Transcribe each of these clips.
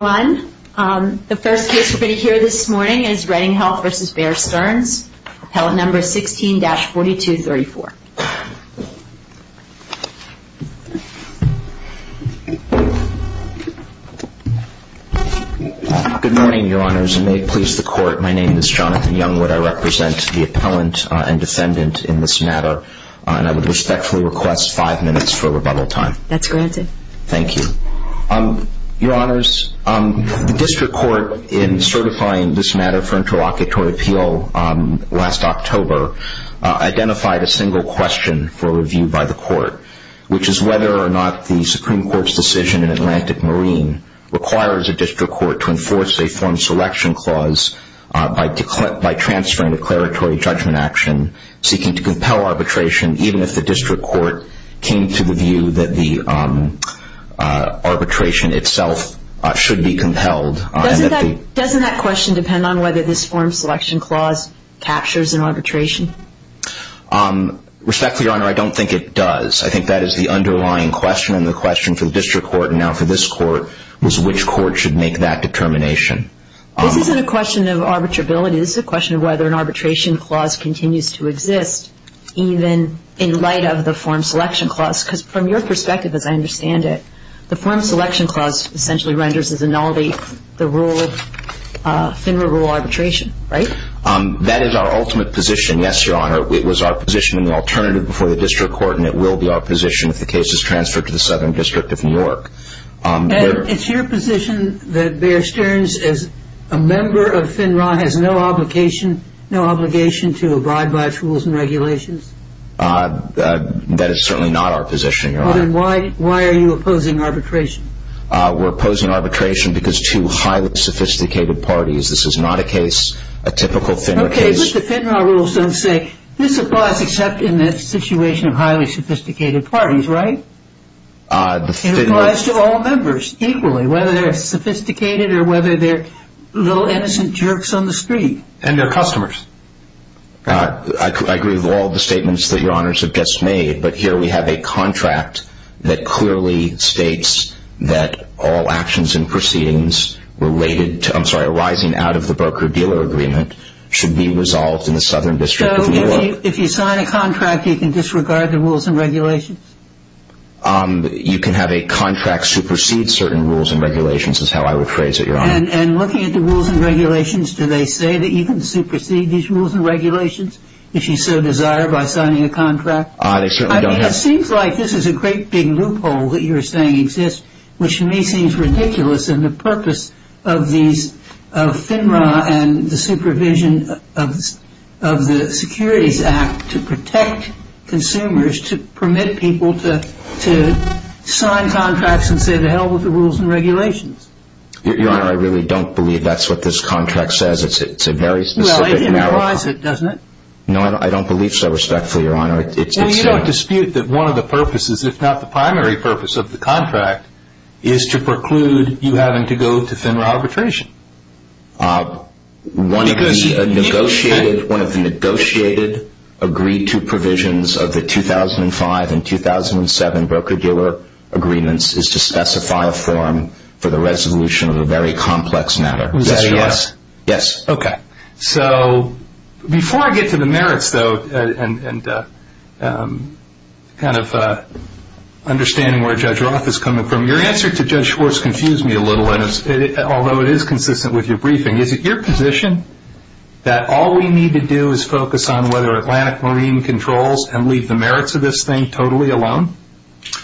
The first case we are going to hear this morning is Redding Health v. Bear Stearns, Appellant No. 16-4234. Good morning, Your Honors. And may it please the Court, my name is Jonathan Youngwood, I represent the appellant and defendant in this matter, and I would respectfully request five minutes for rebuttal time. That's granted. Thank you. Your Honors, the district court in certifying this matter for interlocutory appeal last October identified a single question for review by the court, which is whether or not the Supreme Court's decision in Atlantic Marine requires a district court to enforce a form selection clause by transferring declaratory judgment action seeking to compel arbitration even if the district court came to the view that the arbitration itself should be compelled. Doesn't that question depend on whether this form selection clause captures an arbitration? Respectfully, Your Honor, I don't think it does. I think that is the underlying question and the question for the district court and now for this court was which court should make that determination. This isn't a question of arbitrability, this is a question of whether an arbitration clause continues to exist even in light of the form selection clause, because from your perspective as I understand it, the form selection clause essentially renders as a null the rule of FINRA rule arbitration, right? That is our ultimate position, yes, Your Honor. It was our position in the alternative before the district court and it will be our position if the case is transferred to the Southern District of New York. And it's your position that Bear Stearns, as a member of FINRA, has no obligation to abide by its rules and regulations? That is certainly not our position, Your Honor. Then why are you opposing arbitration? We're opposing arbitration because two highly sophisticated parties. This is not a case, a typical FINRA case. Okay, but the FINRA rules don't say this applies except in the situation of highly sophisticated parties, right? It applies to all members equally, whether they're sophisticated or whether they're little innocent jerks on the street. And their customers. I agree with all the statements that Your Honors have just made, but here we have a contract that clearly states that all actions and proceedings related to, I'm sorry, arising out of the broker-dealer agreement should be resolved in the Southern District of New York. If you sign a contract, you can disregard the rules and regulations? You can have a contract supersede certain rules and regulations, is how I would phrase it, Your Honor. And looking at the rules and regulations, do they say that you can supersede these rules and regulations, if you so desire, by signing a contract? They certainly don't have... I mean, it seems like this is a great big loophole that you're saying exists, which to me seems ridiculous in the purpose of FINRA and the supervision of the Securities Act to protect consumers, to permit people to sign contracts and say to hell with the rules and regulations. Your Honor, I really don't believe that's what this contract says. It's a very specific... Well, it implies it, doesn't it? No, I don't believe so, respectfully, Your Honor. It's... I don't dispute that one of the purposes, if not the primary purpose of the contract, is to preclude you having to go to FINRA arbitration. One of the negotiated, agreed-to provisions of the 2005 and 2007 broker-dealer agreements is to specify a form for the resolution of a very complex matter. Is this yours? Yes. Okay. So, before I get to the merits, though, and kind of understanding where Judge Roth is coming from, your answer to Judge Schwartz confused me a little, although it is consistent with your briefing. Is it your position that all we need to do is focus on whether Atlantic Marine controls and leave the merits of this thing totally alone?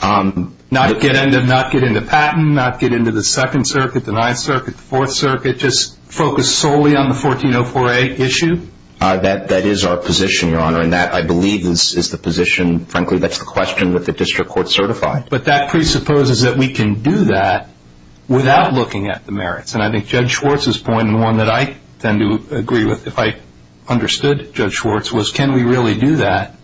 Not get into patent, not get into the Second Circuit, the Ninth Circuit, the Fourth Circuit, but just focus solely on the 1404A issue? That is our position, Your Honor, and that, I believe, is the position, frankly, that's the question, with the district court certified. But that presupposes that we can do that without looking at the merits, and I think Judge Schwartz's point, and one that I tend to agree with, if I understood Judge Schwartz, was can we really do that?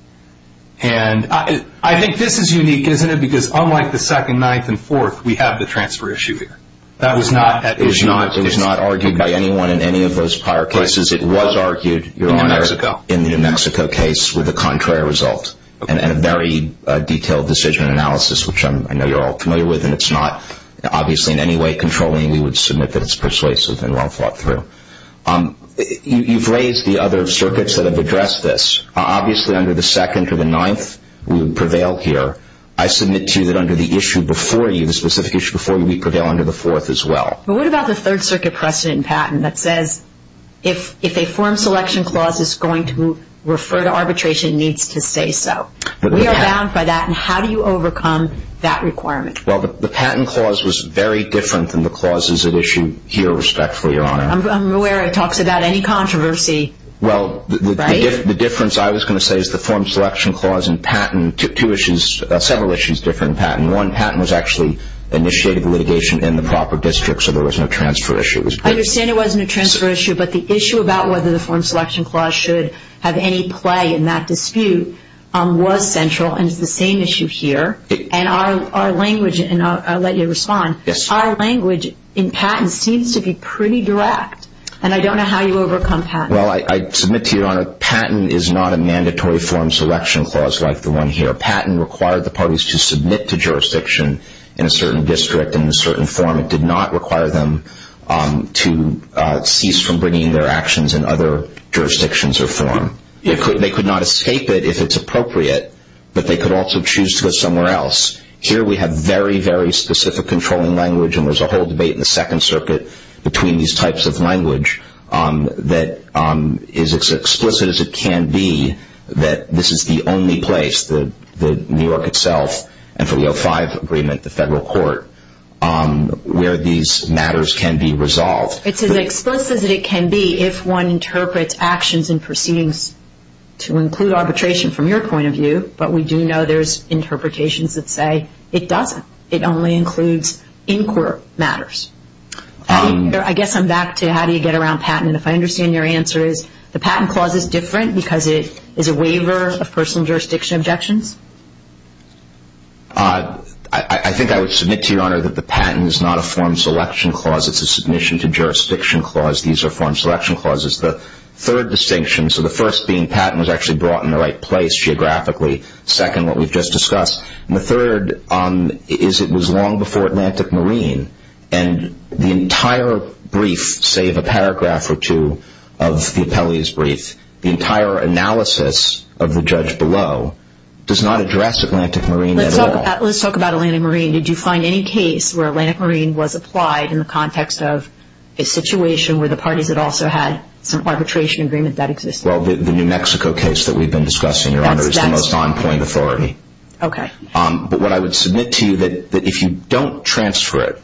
And I think this is unique, isn't it? Because unlike the Second, Ninth, and Fourth, we have the transfer issue here. That was not at issue. It was not argued by anyone in any of those prior cases. It was argued, Your Honor, in the New Mexico case with a contrary result, and a very detailed decision analysis, which I know you're all familiar with, and it's not obviously in any way controlling. We would submit that it's persuasive and well thought through. You've raised the other circuits that have addressed this. Obviously, under the Second or the Ninth, we would prevail here. I submit to you that under the issue before you, the specific issue before you, we prevail under the Fourth as well. But what about the Third Circuit precedent in Patent that says, if a form selection clause is going to refer to arbitration, it needs to say so? We are bound by that, and how do you overcome that requirement? Well, the Patent Clause was very different than the clauses at issue here, respectfully, Your Honor. I'm aware it talks about any controversy, right? Well, the difference, I was going to say, is the form selection clause in Patent, two issues, several issues differ in Patent. In one, Patent was actually initiated litigation in the proper district, so there was no transfer issue. I understand it wasn't a transfer issue, but the issue about whether the form selection clause should have any play in that dispute was central, and it's the same issue here. And our language, and I'll let you respond, our language in Patent seems to be pretty direct, and I don't know how you overcome Patent. Well, I submit to you, Your Honor, Patent is not a mandatory form selection clause like the one here. Patent required the parties to submit to jurisdiction in a certain district in a certain form. It did not require them to cease from bringing their actions in other jurisdictions or form. They could not escape it if it's appropriate, but they could also choose to go somewhere else. Here we have very, very specific controlling language, and there's a whole debate in the Second Circuit between these types of language that is as explicit as it can be that this is the only place, the New York itself, and for the O5 agreement, the Federal Court, where these matters can be resolved. It's as explicit as it can be if one interprets actions and proceedings to include arbitration from your point of view, but we do know there's interpretations that say it doesn't. It only includes in-court matters. I guess I'm back to how do you get around Patent, and if I understand your answer is the Patent Clause is different because it is a waiver of personal jurisdiction objections? I think I would submit to Your Honor that the Patent is not a form selection clause. It's a submission to jurisdiction clause. These are form selection clauses. The third distinction, so the first being Patent was actually brought in the right place geographically, second, what we've just discussed, and the third is it was long before Atlantic Marine, and the entire brief, save a paragraph or two of the appellee's brief, the entire analysis of the judge below does not address Atlantic Marine at all. Let's talk about Atlantic Marine. Did you find any case where Atlantic Marine was applied in the context of a situation where the parties had also had some arbitration agreement that existed? Well, the New Mexico case that we've been discussing, Your Honor, is the most on-point authority. Okay. But what I would submit to you that if you don't transfer it,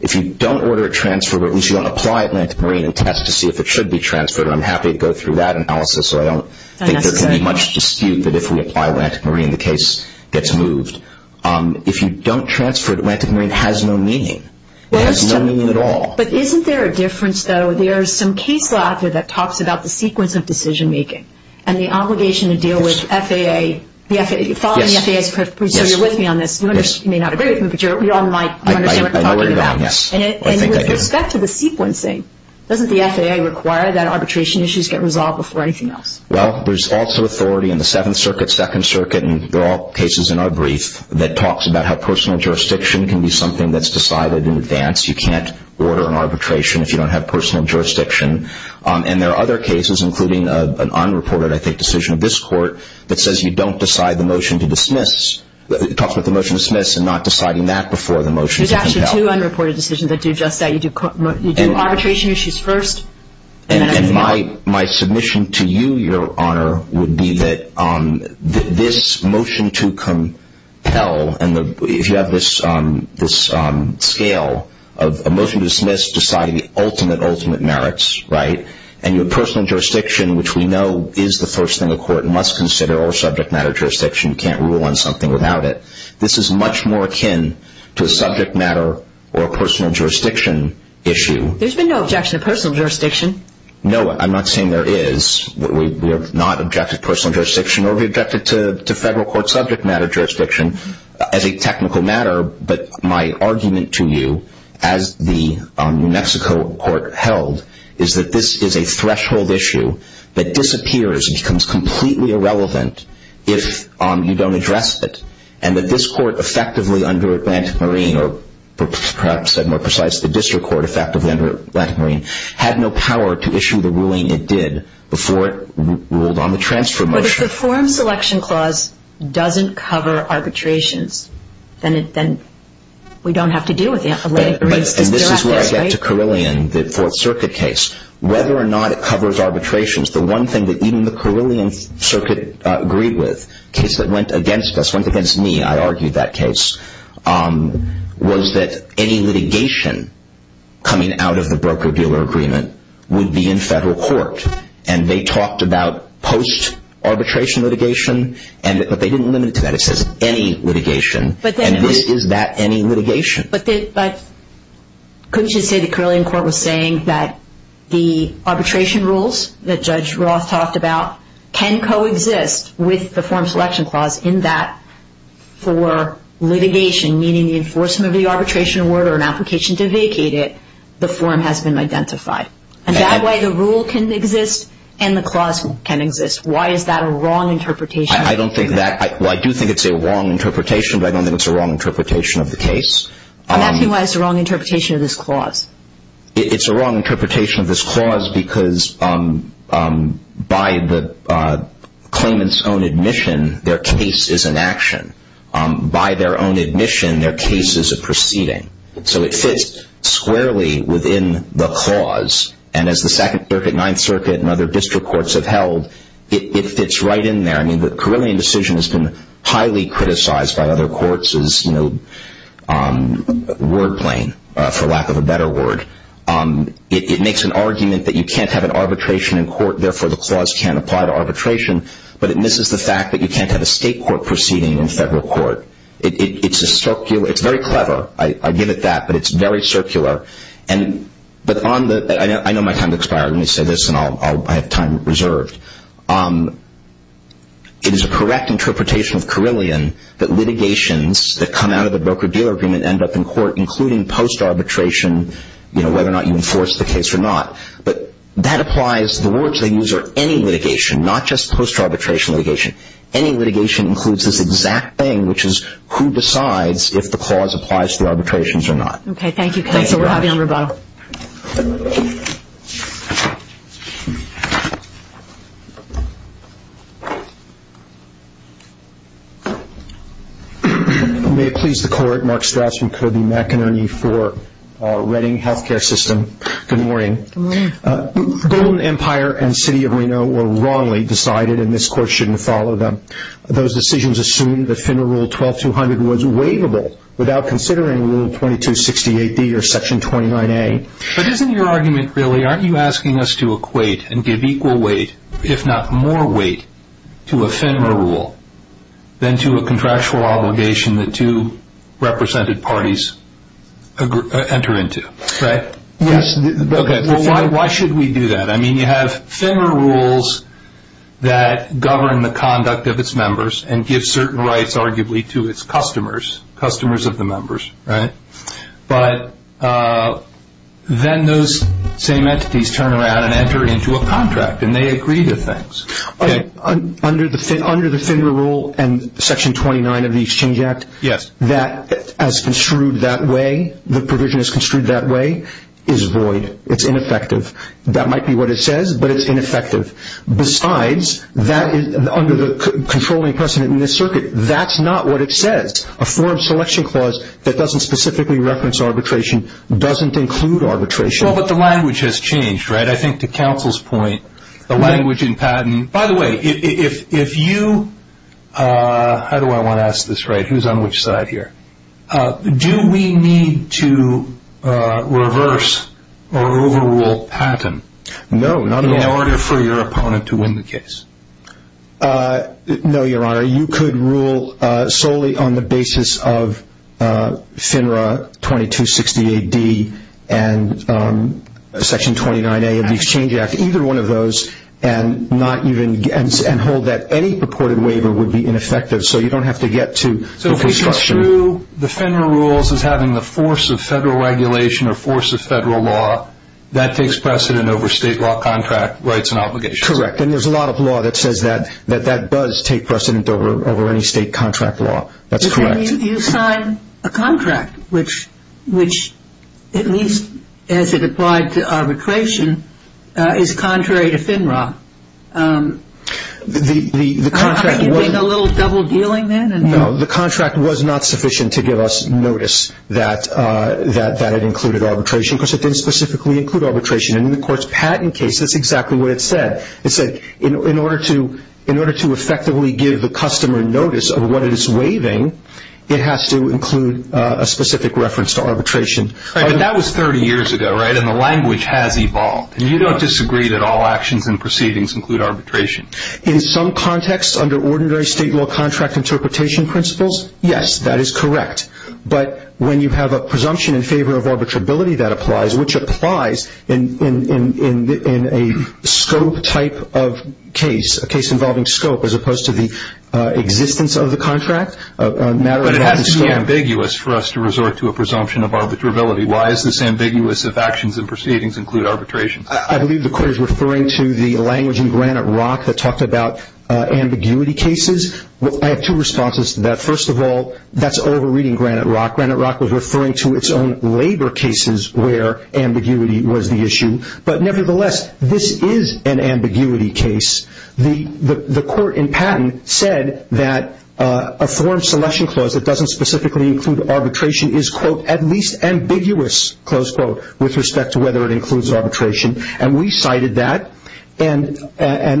if you don't order a transfer, but at least you don't apply Atlantic Marine and test to see if it should be transferred, and I'm happy to go through that analysis, so I don't think there can be much dispute that if we apply Atlantic Marine, the case gets moved. If you don't transfer it, Atlantic Marine has no meaning. It has no meaning at all. But isn't there a difference, though? There's some case law out there that talks about the sequence of decision-making and the obligation to deal with FAA, following the FAA's procedure, so you're with me on this. You may not agree with me, but we all might. I might. I know what you're talking about. Yes. And with respect to the sequencing, doesn't the FAA require that arbitration issues get resolved before anything else? Well, there's also authority in the Seventh Circuit, Second Circuit, and they're all cases in our brief that talks about how personal jurisdiction can be something that's decided in advance. You can't order an arbitration if you don't have personal jurisdiction. And there are other cases, including an unreported, I think, decision of this Court, that says you don't decide the motion to dismiss, talks about the motion to dismiss and not deciding that before the motion to compel. There's actually two unreported decisions that do just that. You do arbitration issues first, and then everything else. My submission to you, Your Honor, would be that this motion to compel, if you have this scale of a motion to dismiss deciding the ultimate, ultimate merits, right, and your personal jurisdiction, which we know is the first thing a court must consider or subject matter jurisdiction, you can't rule on something without it. This is much more akin to a subject matter or a personal jurisdiction issue. There's been no objection to personal jurisdiction. No, I'm not saying there is. We have not objected to personal jurisdiction or we objected to federal court subject matter jurisdiction as a technical matter. But my argument to you, as the New Mexico Court held, is that this is a threshold issue that disappears and becomes completely irrelevant if you don't address it, and that this Court effectively under Atlantic Marine, or perhaps more precisely, the District Court effectively under Atlantic Marine, had no power to issue the ruling it did before it ruled on the transfer motion. If the Form Selection Clause doesn't cover arbitrations, then we don't have to deal with the Atlantic Marine's disparities, right? And this is where I get to Carilion, the Fourth Circuit case. Whether or not it covers arbitrations, the one thing that even the Carilion Circuit agreed with, a case that went against us, went against me, I argued that case, was that any litigation coming out of the broker-dealer agreement would be in federal court. And they talked about post-arbitration litigation, but they didn't limit it to that. It says any litigation, and is that any litigation? But couldn't you say the Carilion Court was saying that the arbitration rules that Judge Roth talked about can coexist with the Form Selection Clause in that for litigation, meaning the enforcement of the arbitration award or an application to vacate it, the form has been identified. And that way the rule can exist and the clause can exist. Why is that a wrong interpretation? I don't think that, well I do think it's a wrong interpretation, but I don't think it's a wrong interpretation of the case. I'm asking why it's a wrong interpretation of this clause. It's a wrong interpretation of this clause because by the claimant's own admission, their case is an action. By their own admission, their case is a proceeding. So it fits squarely within the clause, and as the Second Circuit, Ninth Circuit, and other district courts have held, it fits right in there. I mean the Carilion decision has been highly criticized by other courts as, you know, word plain, for lack of a better word. It makes an argument that you can't have an arbitration in court, therefore the clause can't apply to arbitration, but it misses the fact that you can't have a state court proceeding in federal court. It's a circular, it's very clever, I give it that, but it's very circular, and, but on the, I know my time has expired, let me say this and I'll have time reserved, it is a correct interpretation of Carilion that litigations that come out of the broker-dealer agreement end up in court, including post-arbitration, you know, whether or not you enforce the case or not. But that applies, the words they use are any litigation, not just post-arbitration litigation. Any litigation includes this exact thing, which is who decides if the clause applies to the arbitrations or not. Okay, thank you counsel, we're happy on rebuttal. May it please the court, Mark Strassman, Kirby McInerney for Reading Healthcare System. Good morning. Good morning. Golden Empire and City of Reno were wrongly decided and this court shouldn't follow them. Those decisions assume that FINRA Rule 12-200 was waivable without considering Rule 22-68D or Section 29A. But isn't your argument really, aren't you asking us to equate and give equal weight, if not more weight, to a FINRA rule than to a contractual obligation that two represented parties enter into, right? Yes. Why should we do that? I mean, you have FINRA rules that govern the conduct of its members and give certain rights, arguably, to its customers, customers of the members, right? But then those same entities turn around and enter into a contract and they agree to things. Under the FINRA rule and Section 29 of the Exchange Act, that as construed that way, the provision is construed that way, is void. It's ineffective. That might be what it says, but it's ineffective. Besides that, under the controlling precedent in this circuit, that's not what it says. A forum selection clause that doesn't specifically reference arbitration doesn't include arbitration. Well, but the language has changed, right? I think to counsel's point, the language in patent, by the way, if you, how do I want to ask this right? Who's on which side here? Do we need to reverse or overrule patent in order for your opponent to win the case? No, Your Honor. You could rule solely on the basis of FINRA 2260AD and Section 29A of the Exchange Act, either one of those, and not even, and hold that any purported waiver would be ineffective. So you don't have to get to the construction. Through the FINRA rules as having the force of federal regulation or force of federal law, that takes precedent over state law contract rights and obligations. Correct. And there's a lot of law that says that, that that does take precedent over any state contract law. That's correct. But then you sign a contract, which at least as it applied to arbitration, is contrary to FINRA. The contract was... Are you doing a little double dealing then? No, the contract was not sufficient to give us notice that it included arbitration, because it didn't specifically include arbitration. And in the court's patent case, that's exactly what it said. It said in order to effectively give the customer notice of what it is waiving, it has to include a specific reference to arbitration. Right, but that was 30 years ago, right? And the language has evolved. And you don't disagree that all actions and proceedings include arbitration. In some contexts, under ordinary state law contract interpretation principles, yes, that is correct. But when you have a presumption in favor of arbitrability that applies, which applies in a scope type of case, a case involving scope, as opposed to the existence of the contract, a matter of... But it has to be ambiguous for us to resort to a presumption of arbitrability. Why is this ambiguous if actions and proceedings include arbitration? I believe the court is referring to the language in Granite Rock that talked about ambiguity cases. I have two responses to that. First of all, that's over-reading Granite Rock. Granite Rock was referring to its own labor cases where ambiguity was the issue. But nevertheless, this is an ambiguity case. The court in patent said that a foreign selection clause that doesn't specifically include arbitration is, quote, at least ambiguous, close quote, with respect to whether it includes arbitration. And we cited that and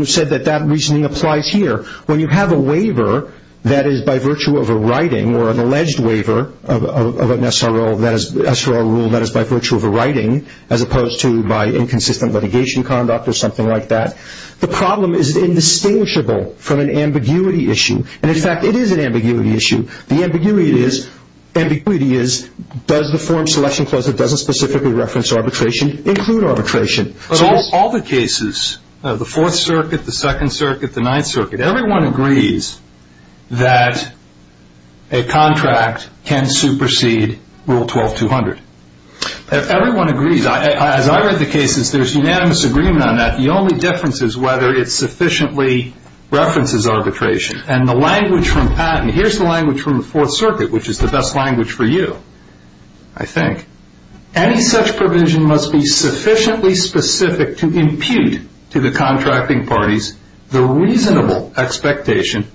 said that that reasoning applies here. When you have a waiver that is by virtue of a writing or an alleged waiver of an SRO rule that is by virtue of a writing, as opposed to by inconsistent litigation conduct or something like that, the problem is indistinguishable from an ambiguity issue. And, in fact, it is an ambiguity issue. The ambiguity is, does the foreign selection clause that doesn't specifically reference arbitration include arbitration? So all the cases, the Fourth Circuit, the Second Circuit, the Ninth Circuit, everyone agrees that a contract can supersede Rule 12-200. Everyone agrees. As I read the cases, there's unanimous agreement on that. The only difference is whether it sufficiently references arbitration. And the language from patent, here's the language from the Fourth Circuit, which is the best language for you, I think. Any such provision must be sufficiently specific to impute to the contracting parties the reasonable expectation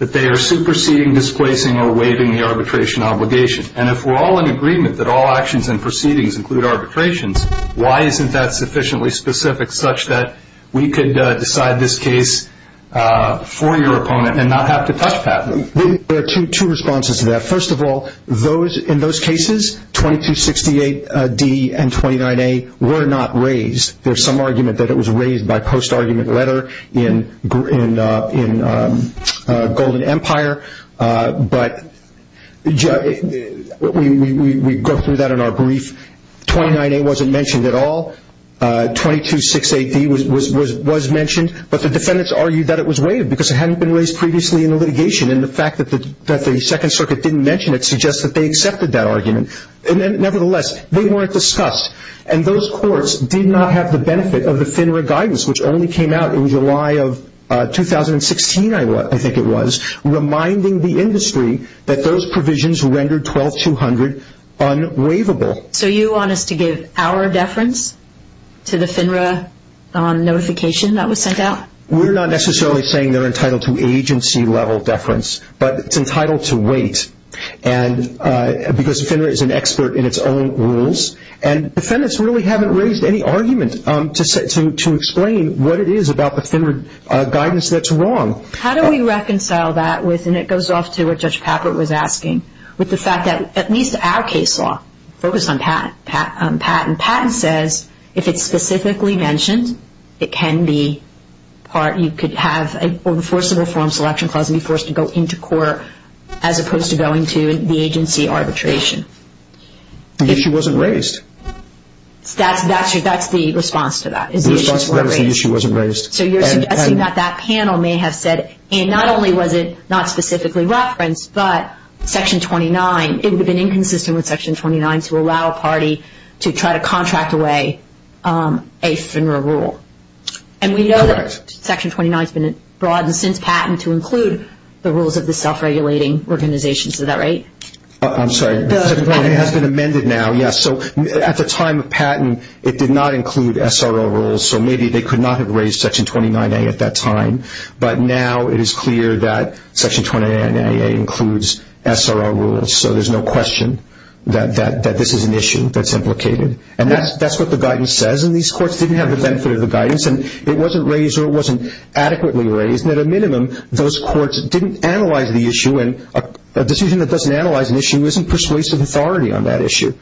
that they are superseding, displacing, or waiving the arbitration obligation. And if we're all in agreement that all actions and proceedings include arbitrations, why isn't that sufficiently specific such that we could decide this case for your opponent and not have to touch patent? There are two responses to that. First of all, in those cases, 2268D and 29A were not raised. There's some argument that it was raised by post-argument letter in Golden Empire. But we go through that in our brief. 29A wasn't mentioned at all. 2268D was mentioned. But the defendants argued that it was waived because it hadn't been raised previously in the litigation. And the fact that the Second Circuit didn't mention it suggests that they accepted that argument. Nevertheless, they weren't discussed. And those courts did not have the benefit of the FINRA guidance, which only came out in July of 2016, I think it was, reminding the industry that those provisions rendered 12-200 unwaivable. So you want us to give our deference to the FINRA notification that was sent out? We're not necessarily saying they're entitled to agency-level deference. But it's entitled to wait because the FINRA is an expert in its own rules. And defendants really haven't raised any argument to explain what it is about the FINRA guidance that's wrong. How do we reconcile that with, and it goes off to what Judge Papert was asking, with the fact that at least our case law focused on patent. Patent says if it's specifically mentioned, it can be part, you could have a forcible form selection clause and be forced to go into court as opposed to going to the agency arbitration. The issue wasn't raised. That's the response to that. The response to that is the issue wasn't raised. So you're suggesting that that panel may have said, and not only was it not specifically referenced, but Section 29, it would have been inconsistent with Section 29 to allow a party to try to contract away a FINRA rule. And we know that Section 29 has been broadened since patent to include the rules of the self-regulating organizations. Is that right? I'm sorry. It has been amended now, yes. So at the time of patent, it did not include SRO rules, so maybe they could not have raised Section 29A at that time. But now it is clear that Section 29A includes SRO rules. So there's no question that this is an issue that's implicated. And that's what the guidance says, and these courts didn't have the benefit of the guidance, and it wasn't raised or it wasn't adequately raised. And at a minimum, those courts didn't analyze the issue, and a decision that doesn't analyze an issue isn't persuasive authority on that issue.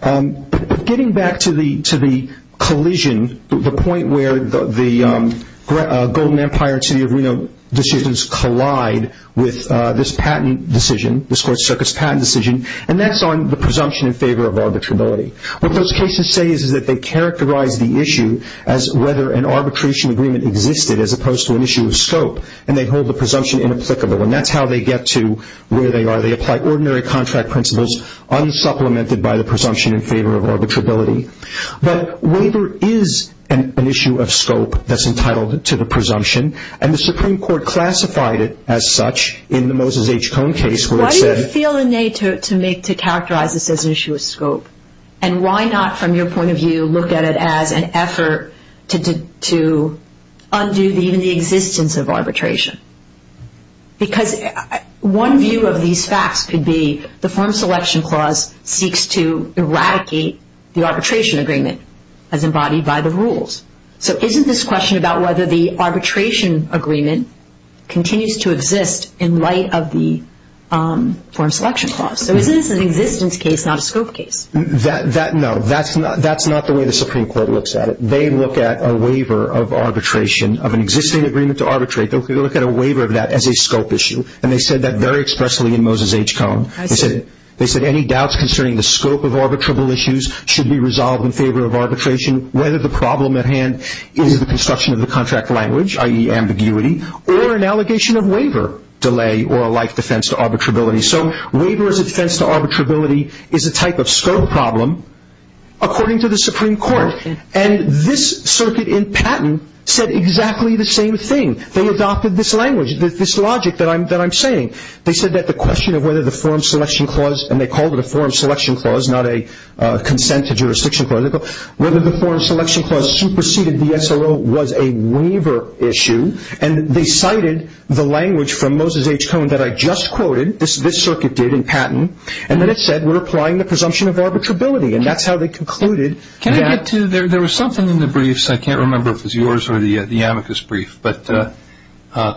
But getting back to the collision, the point where the Golden Empire and City of Reno decisions collide with this patent decision, this court's circus patent decision, and that's on the presumption in favor of arbitrability. What those cases say is that they characterize the issue as whether an arbitration agreement existed as opposed to an issue of scope, and they hold the presumption inapplicable. And that's how they get to where they are. They apply ordinary contract principles, unsupplemented by the presumption in favor of arbitrability. But waiver is an issue of scope that's entitled to the presumption, and the Supreme Court classified it as such in the Moses H. Cohn case where it said— Why do you feel the need to characterize this as an issue of scope? And why not, from your point of view, look at it as an effort to undo even the existence of arbitration? Because one view of these facts could be the form selection clause seeks to eradicate the arbitration agreement as embodied by the rules. So isn't this question about whether the arbitration agreement continues to exist in light of the form selection clause? So is this an existence case, not a scope case? No, that's not the way the Supreme Court looks at it. They look at a waiver of arbitration of an existing agreement to arbitrate. They look at a waiver of that as a scope issue, and they said that very expressly in Moses H. Cohn. They said any doubts concerning the scope of arbitrable issues should be resolved in favor of arbitration, whether the problem at hand is the construction of the contract language, i.e. ambiguity, or an allegation of waiver delay or a life defense to arbitrability. So waiver as a defense to arbitrability is a type of scope problem, according to the Supreme Court. And this circuit in Patton said exactly the same thing. They adopted this language, this logic that I'm saying. They said that the question of whether the form selection clause, and they called it a form selection clause, not a consent to jurisdiction clause, whether the form selection clause superseded the SLO was a waiver issue, and they cited the language from Moses H. Cohn that I just quoted, this circuit did in Patton, and then it said we're applying the presumption of arbitrability, and that's how they concluded that. There was something in the briefs, I can't remember if it was yours or the amicus brief,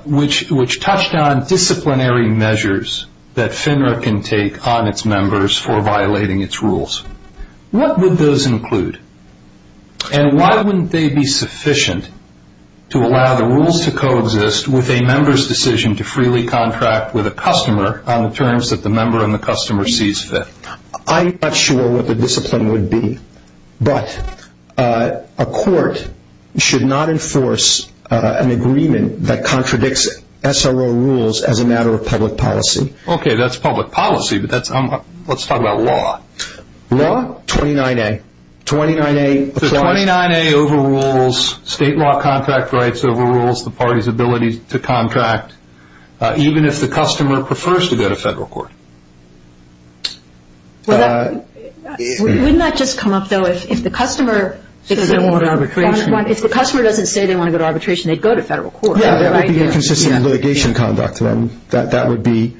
which touched on disciplinary measures that FINRA can take on its members for violating its rules. What would those include? And why wouldn't they be sufficient to allow the rules to coexist with a member's decision to freely contract with a customer on the terms that the member and the customer sees fit? I'm not sure what the discipline would be, but a court should not enforce an agreement that contradicts SLO rules as a matter of public policy. Okay, that's public policy, but let's talk about law. Law, 29A. 29A overrules state law contract rights, overrules the party's ability to contract, even if the customer prefers to go to federal court. Wouldn't that just come up, though, if the customer doesn't say they want to go to arbitration, they'd go to federal court, right? Yeah, that would be inconsistent with litigation conduct, and that would be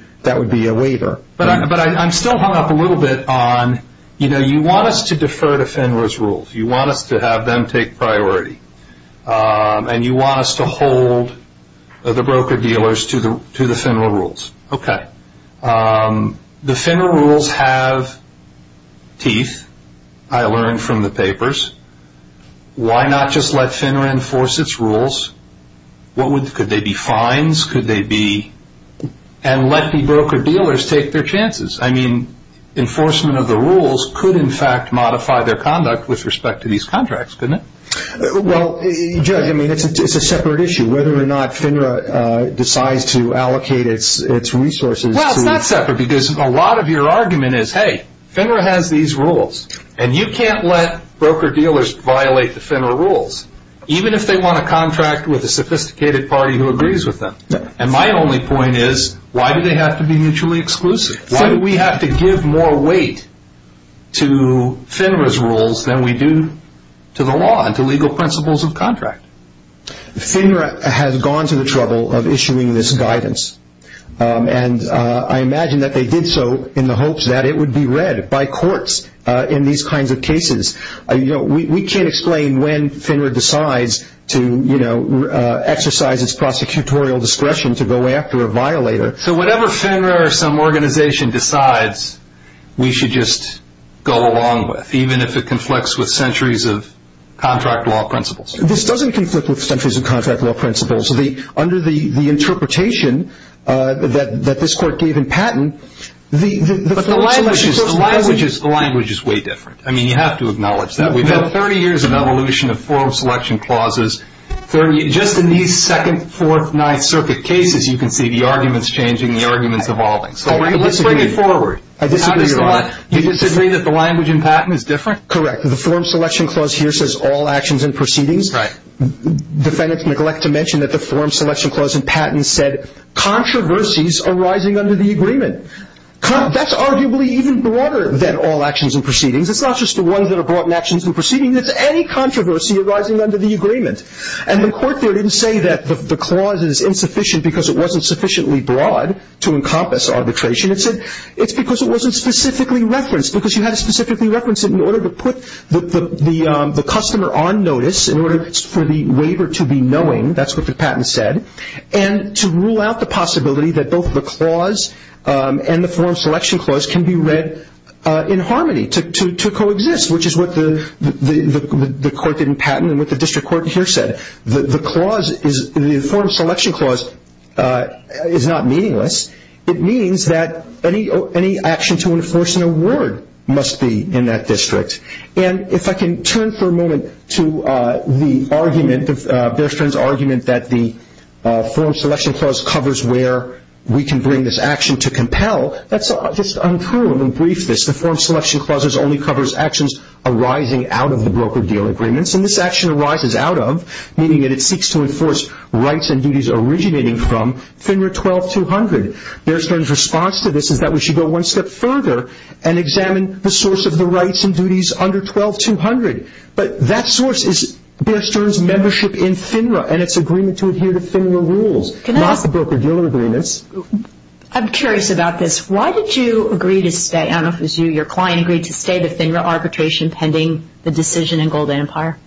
a waiver. But I'm still hung up a little bit on, you know, you want us to defer to FINRA's rules. You want us to have them take priority. And you want us to hold the broker-dealers to the FINRA rules. Okay. The FINRA rules have teeth, I learned from the papers. Why not just let FINRA enforce its rules? Could they be fines? And let the broker-dealers take their chances. I mean, enforcement of the rules could, in fact, modify their conduct with respect to these contracts, couldn't it? Well, you judge. I mean, it's a separate issue whether or not FINRA decides to allocate its resources. Well, it's not separate because a lot of your argument is, hey, FINRA has these rules, and you can't let broker-dealers violate the FINRA rules, even if they want to contract with a sophisticated party who agrees with them. And my only point is, why do they have to be mutually exclusive? Why do we have to give more weight to FINRA's rules than we do to the law and to legal principles of contract? FINRA has gone to the trouble of issuing this guidance. And I imagine that they did so in the hopes that it would be read by courts in these kinds of cases. You know, we can't explain when FINRA decides to, you know, exercise its prosecutorial discretion to go after a violator. So whatever FINRA or some organization decides, we should just go along with, even if it conflicts with centuries of contract law principles. This doesn't conflict with centuries of contract law principles. Under the interpretation that this court gave in Patton, the form selection clause – But the language is way different. I mean, you have to acknowledge that. We've had 30 years of evolution of form selection clauses. Just in these second, fourth, ninth circuit cases, you can see the arguments changing, the arguments evolving. So let's bring it forward. I disagree with that. You disagree that the language in Patton is different? Correct. The form selection clause here says all actions and proceedings. Right. Defendants neglect to mention that the form selection clause in Patton said controversies arising under the agreement. That's arguably even broader than all actions and proceedings. It's not just the ones that are brought in actions and proceedings. It's any controversy arising under the agreement. And the court there didn't say that the clause is insufficient because it wasn't sufficiently broad to encompass arbitration. It said it's because it wasn't specifically referenced, because you had to specifically reference it in order to put the customer on notice, in order for the waiver to be knowing. That's what the Patton said. And to rule out the possibility that both the clause and the form selection clause can be read in harmony, to coexist, which is what the court did in Patton and what the district court here said, the clause is the form selection clause is not meaningless. It means that any action to enforce an award must be in that district. And if I can turn for a moment to the argument, Bear Strings' argument that the form selection clause covers where we can bring this action to compel, that's just untrue. I'm going to brief this. The form selection clause only covers actions arising out of the broker-dealer agreements. And this action arises out of, meaning that it seeks to enforce rights and duties originating from FINRA 12-200. Bear String's response to this is that we should go one step further and examine the source of the rights and duties under 12-200. But that source is Bear String's membership in FINRA and its agreement to adhere to FINRA rules, not the broker-dealer agreements. I'm curious about this. Why did you agree to stay, I don't know if it was you or your client, agreed to stay to FINRA arbitration pending the decision in Gold Empire?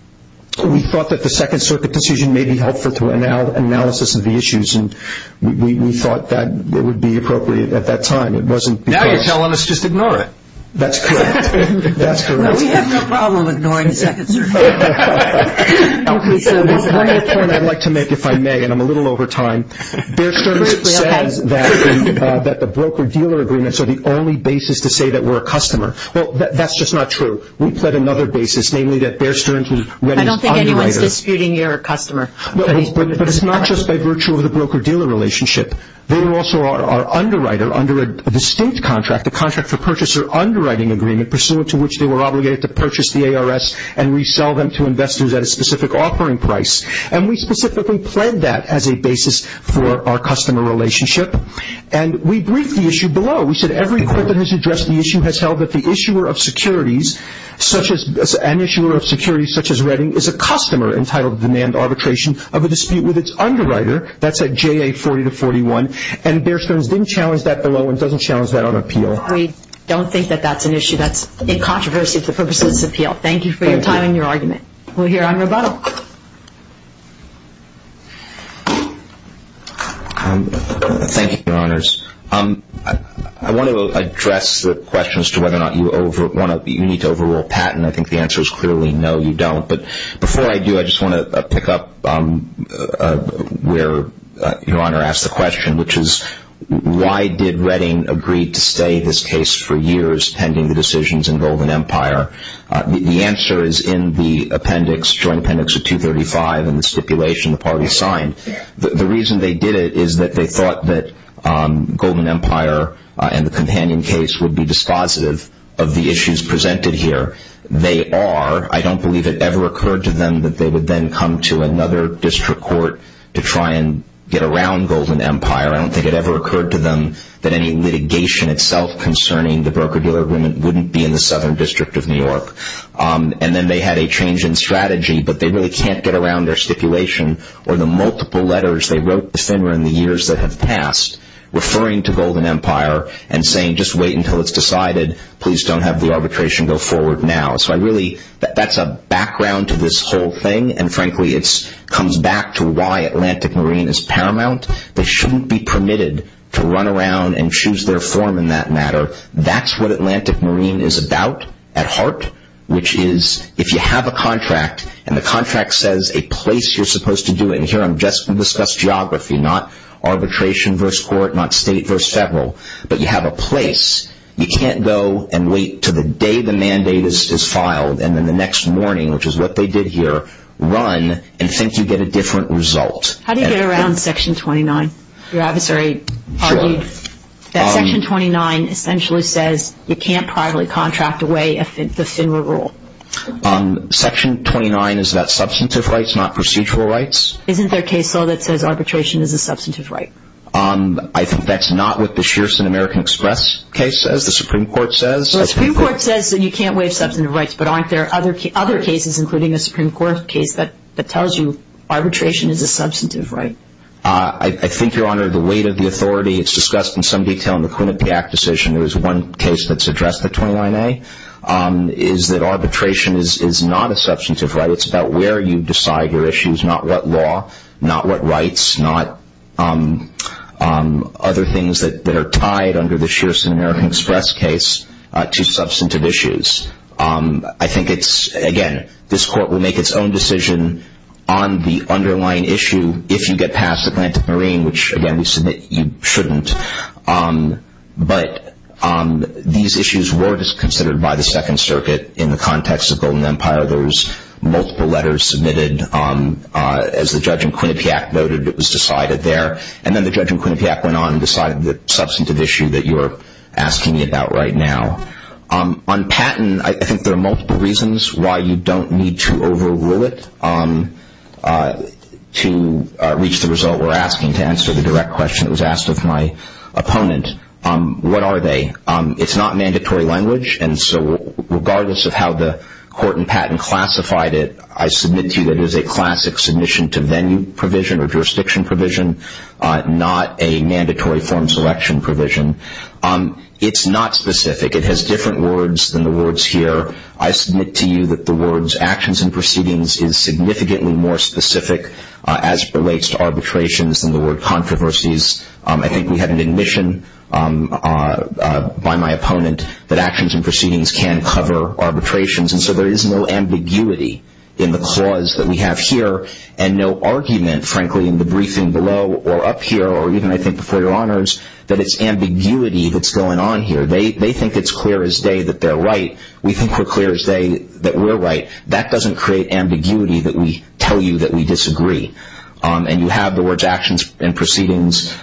We thought that the Second Circuit decision may be helpful to our analysis of the issues, and we thought that it would be appropriate at that time. It wasn't because... Now you're telling us just ignore it. That's correct. That's correct. Well, we have no problem ignoring the Second Circuit. Okay. One other point I'd like to make, if I may, and I'm a little over time. Bear String says that the broker-dealer agreements are the only basis to say that we're a customer. Well, that's just not true. We pled another basis, namely that Bear String was ready... I don't think anyone's disputing you're a customer. But it's not just by virtue of the broker-dealer relationship. They were also our underwriter under a distinct contract, the Contract for Purchaser Underwriting Agreement, pursuant to which they were obligated to purchase the ARS and resell them to investors at a specific offering price. And we specifically pled that as a basis for our customer relationship. And we briefed the issue below. We said every quip that has addressed the issue has held that the issuer of securities, such as an issuer of securities such as Reading, is a customer entitled to demand arbitration of a dispute with its underwriter. That's at JA 40 to 41. And Bear String didn't challenge that below and doesn't challenge that on appeal. We don't think that that's an issue. That's a controversy for the purposes of this appeal. Thank you for your time and your argument. We're here on rebuttal. Thank you, Your Honors. I want to address the question as to whether or not you need to overrule Patten. I think the answer is clearly no, you don't. But before I do, I just want to pick up where Your Honor asked the question, which is why did Reading agree to stay this case for years pending the decisions in Golden Empire? The answer is in the appendix, joint appendix of 235 and the stipulation the parties signed. The reason they did it is that they thought that Golden Empire and the companion case would be dispositive of the issues presented here. They are. I don't believe it ever occurred to them that they would then come to another district court to try and get around Golden Empire. I don't think it ever occurred to them that any litigation itself concerning the broker-dealer agreement wouldn't be in the Southern District of New York. And then they had a change in strategy, but they really can't get around their stipulation or the multiple letters they wrote to Finner in the years that have passed referring to Golden Empire and saying just wait until it's decided. Please don't have the arbitration go forward now. So I really, that's a background to this whole thing, and frankly it comes back to why Atlantic Marine is paramount. They shouldn't be permitted to run around and choose their form in that matter. That's what Atlantic Marine is about at heart, which is if you have a contract and the contract says a place you're supposed to do it, and here I'm just going to discuss geography, not arbitration versus court, not state versus federal, but you have a place, you can't go and wait until the day the mandate is filed and then the next morning, which is what they did here, run and think you get a different result. How do you get around Section 29? Your adversary argued that Section 29 essentially says you can't privately contract away the Finner rule. Section 29 is that substantive rights, not procedural rights? Isn't there a case law that says arbitration is a substantive right? I think that's not what the Shearson American Express case says, the Supreme Court says. The Supreme Court says that you can't waive substantive rights, but aren't there other cases including a Supreme Court case that tells you arbitration is a substantive right? I think, Your Honor, the weight of the authority, it's discussed in some detail in the Quinnipiac decision, there's one case that's addressed, the 29A, is that arbitration is not a substantive right. It's about where you decide your issues, not what law, not what rights, not other things that are tied under the Shearson American Express case to substantive issues. I think it's, again, this Court will make its own decision on the underlying issue if you get past Atlantic Marine, which, again, we submit you shouldn't. But these issues were considered by the Second Circuit in the context of Golden Empire. There was multiple letters submitted. As the judge in Quinnipiac noted, it was decided there. And then the judge in Quinnipiac went on and decided the substantive issue that you're asking me about right now. On patent, I think there are multiple reasons why you don't need to overrule it to reach the result we're asking, to answer the direct question that was asked of my opponent. What are they? It's not mandatory language, and so regardless of how the court in patent classified it, I submit to you that it is a classic submission to venue provision or jurisdiction provision, not a mandatory form selection provision. It's not specific. It has different words than the words here. I submit to you that the words actions and proceedings is significantly more specific as it relates to arbitrations than the word controversies. I think we have an admission by my opponent that actions and proceedings can cover arbitrations, and so there is no ambiguity in the clause that we have here and no argument, frankly, in the briefing below or up here or even, I think, before your honors, that it's ambiguity that's going on here. They think it's clear as day that they're right. We think we're clear as day that we're right. That doesn't create ambiguity that we tell you that we disagree. And you have the words actions and proceedings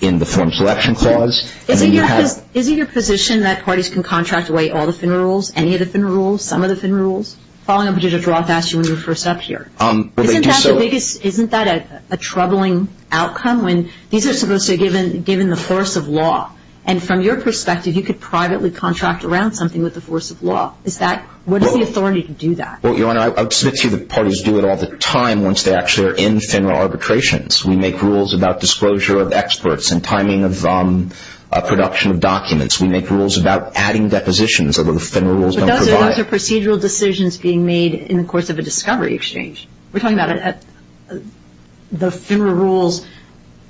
in the form selection clause. Is it your position that parties can contract away all the FIN rules, any of the FIN rules, some of the FIN rules, following on from what Judge Roth asked you when you were first up here? Well, they do so. Isn't that the biggest, isn't that a troubling outcome when these are supposed to be given the force of law? And from your perspective, you could privately contract around something with the force of law. Is that, what is the authority to do that? Well, your honor, I submit to you that parties do it all the time once they actually are in FINRA arbitrations. We make rules about disclosure of experts and timing of production of documents. We make rules about adding depositions, although the FINRA rules don't provide it. Those are procedural decisions being made in the course of a discovery exchange. We're talking about the FINRA rules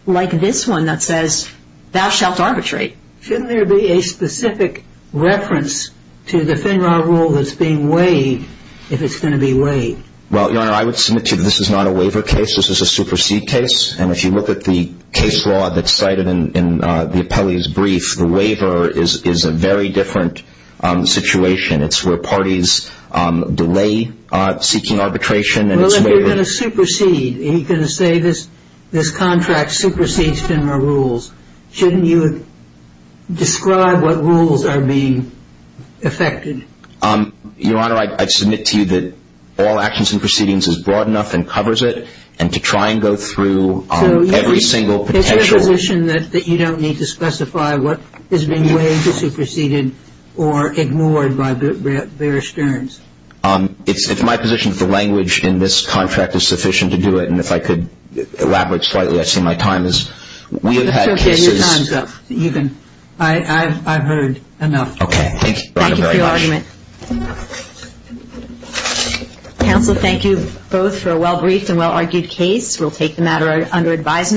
like this one that says thou shalt arbitrate. Shouldn't there be a specific reference to the FINRA rule that's being waived if it's going to be waived? Well, your honor, I would submit to you this is not a waiver case. This is a supersede case. And if you look at the case law that's cited in the appellee's brief, the waiver is a very different situation. It's where parties delay seeking arbitration. Well, if you're going to supersede, if you're going to say this contract supersedes FINRA rules, shouldn't you describe what rules are being effected? Your honor, I submit to you that all actions and proceedings is broad enough and covers it, and to try and go through every single potential. It's my position that you don't need to specify what is being waived, superseded, or ignored by Bear Stearns. It's my position that the language in this contract is sufficient to do it. And if I could elaborate slightly, I see my time is – we have had cases – Your time's up. I've heard enough. Thank you, your honor, very much. Thank you for your argument. Counsel, thank you both for a well-briefed and well-argued case. We'll take the matter under advisement.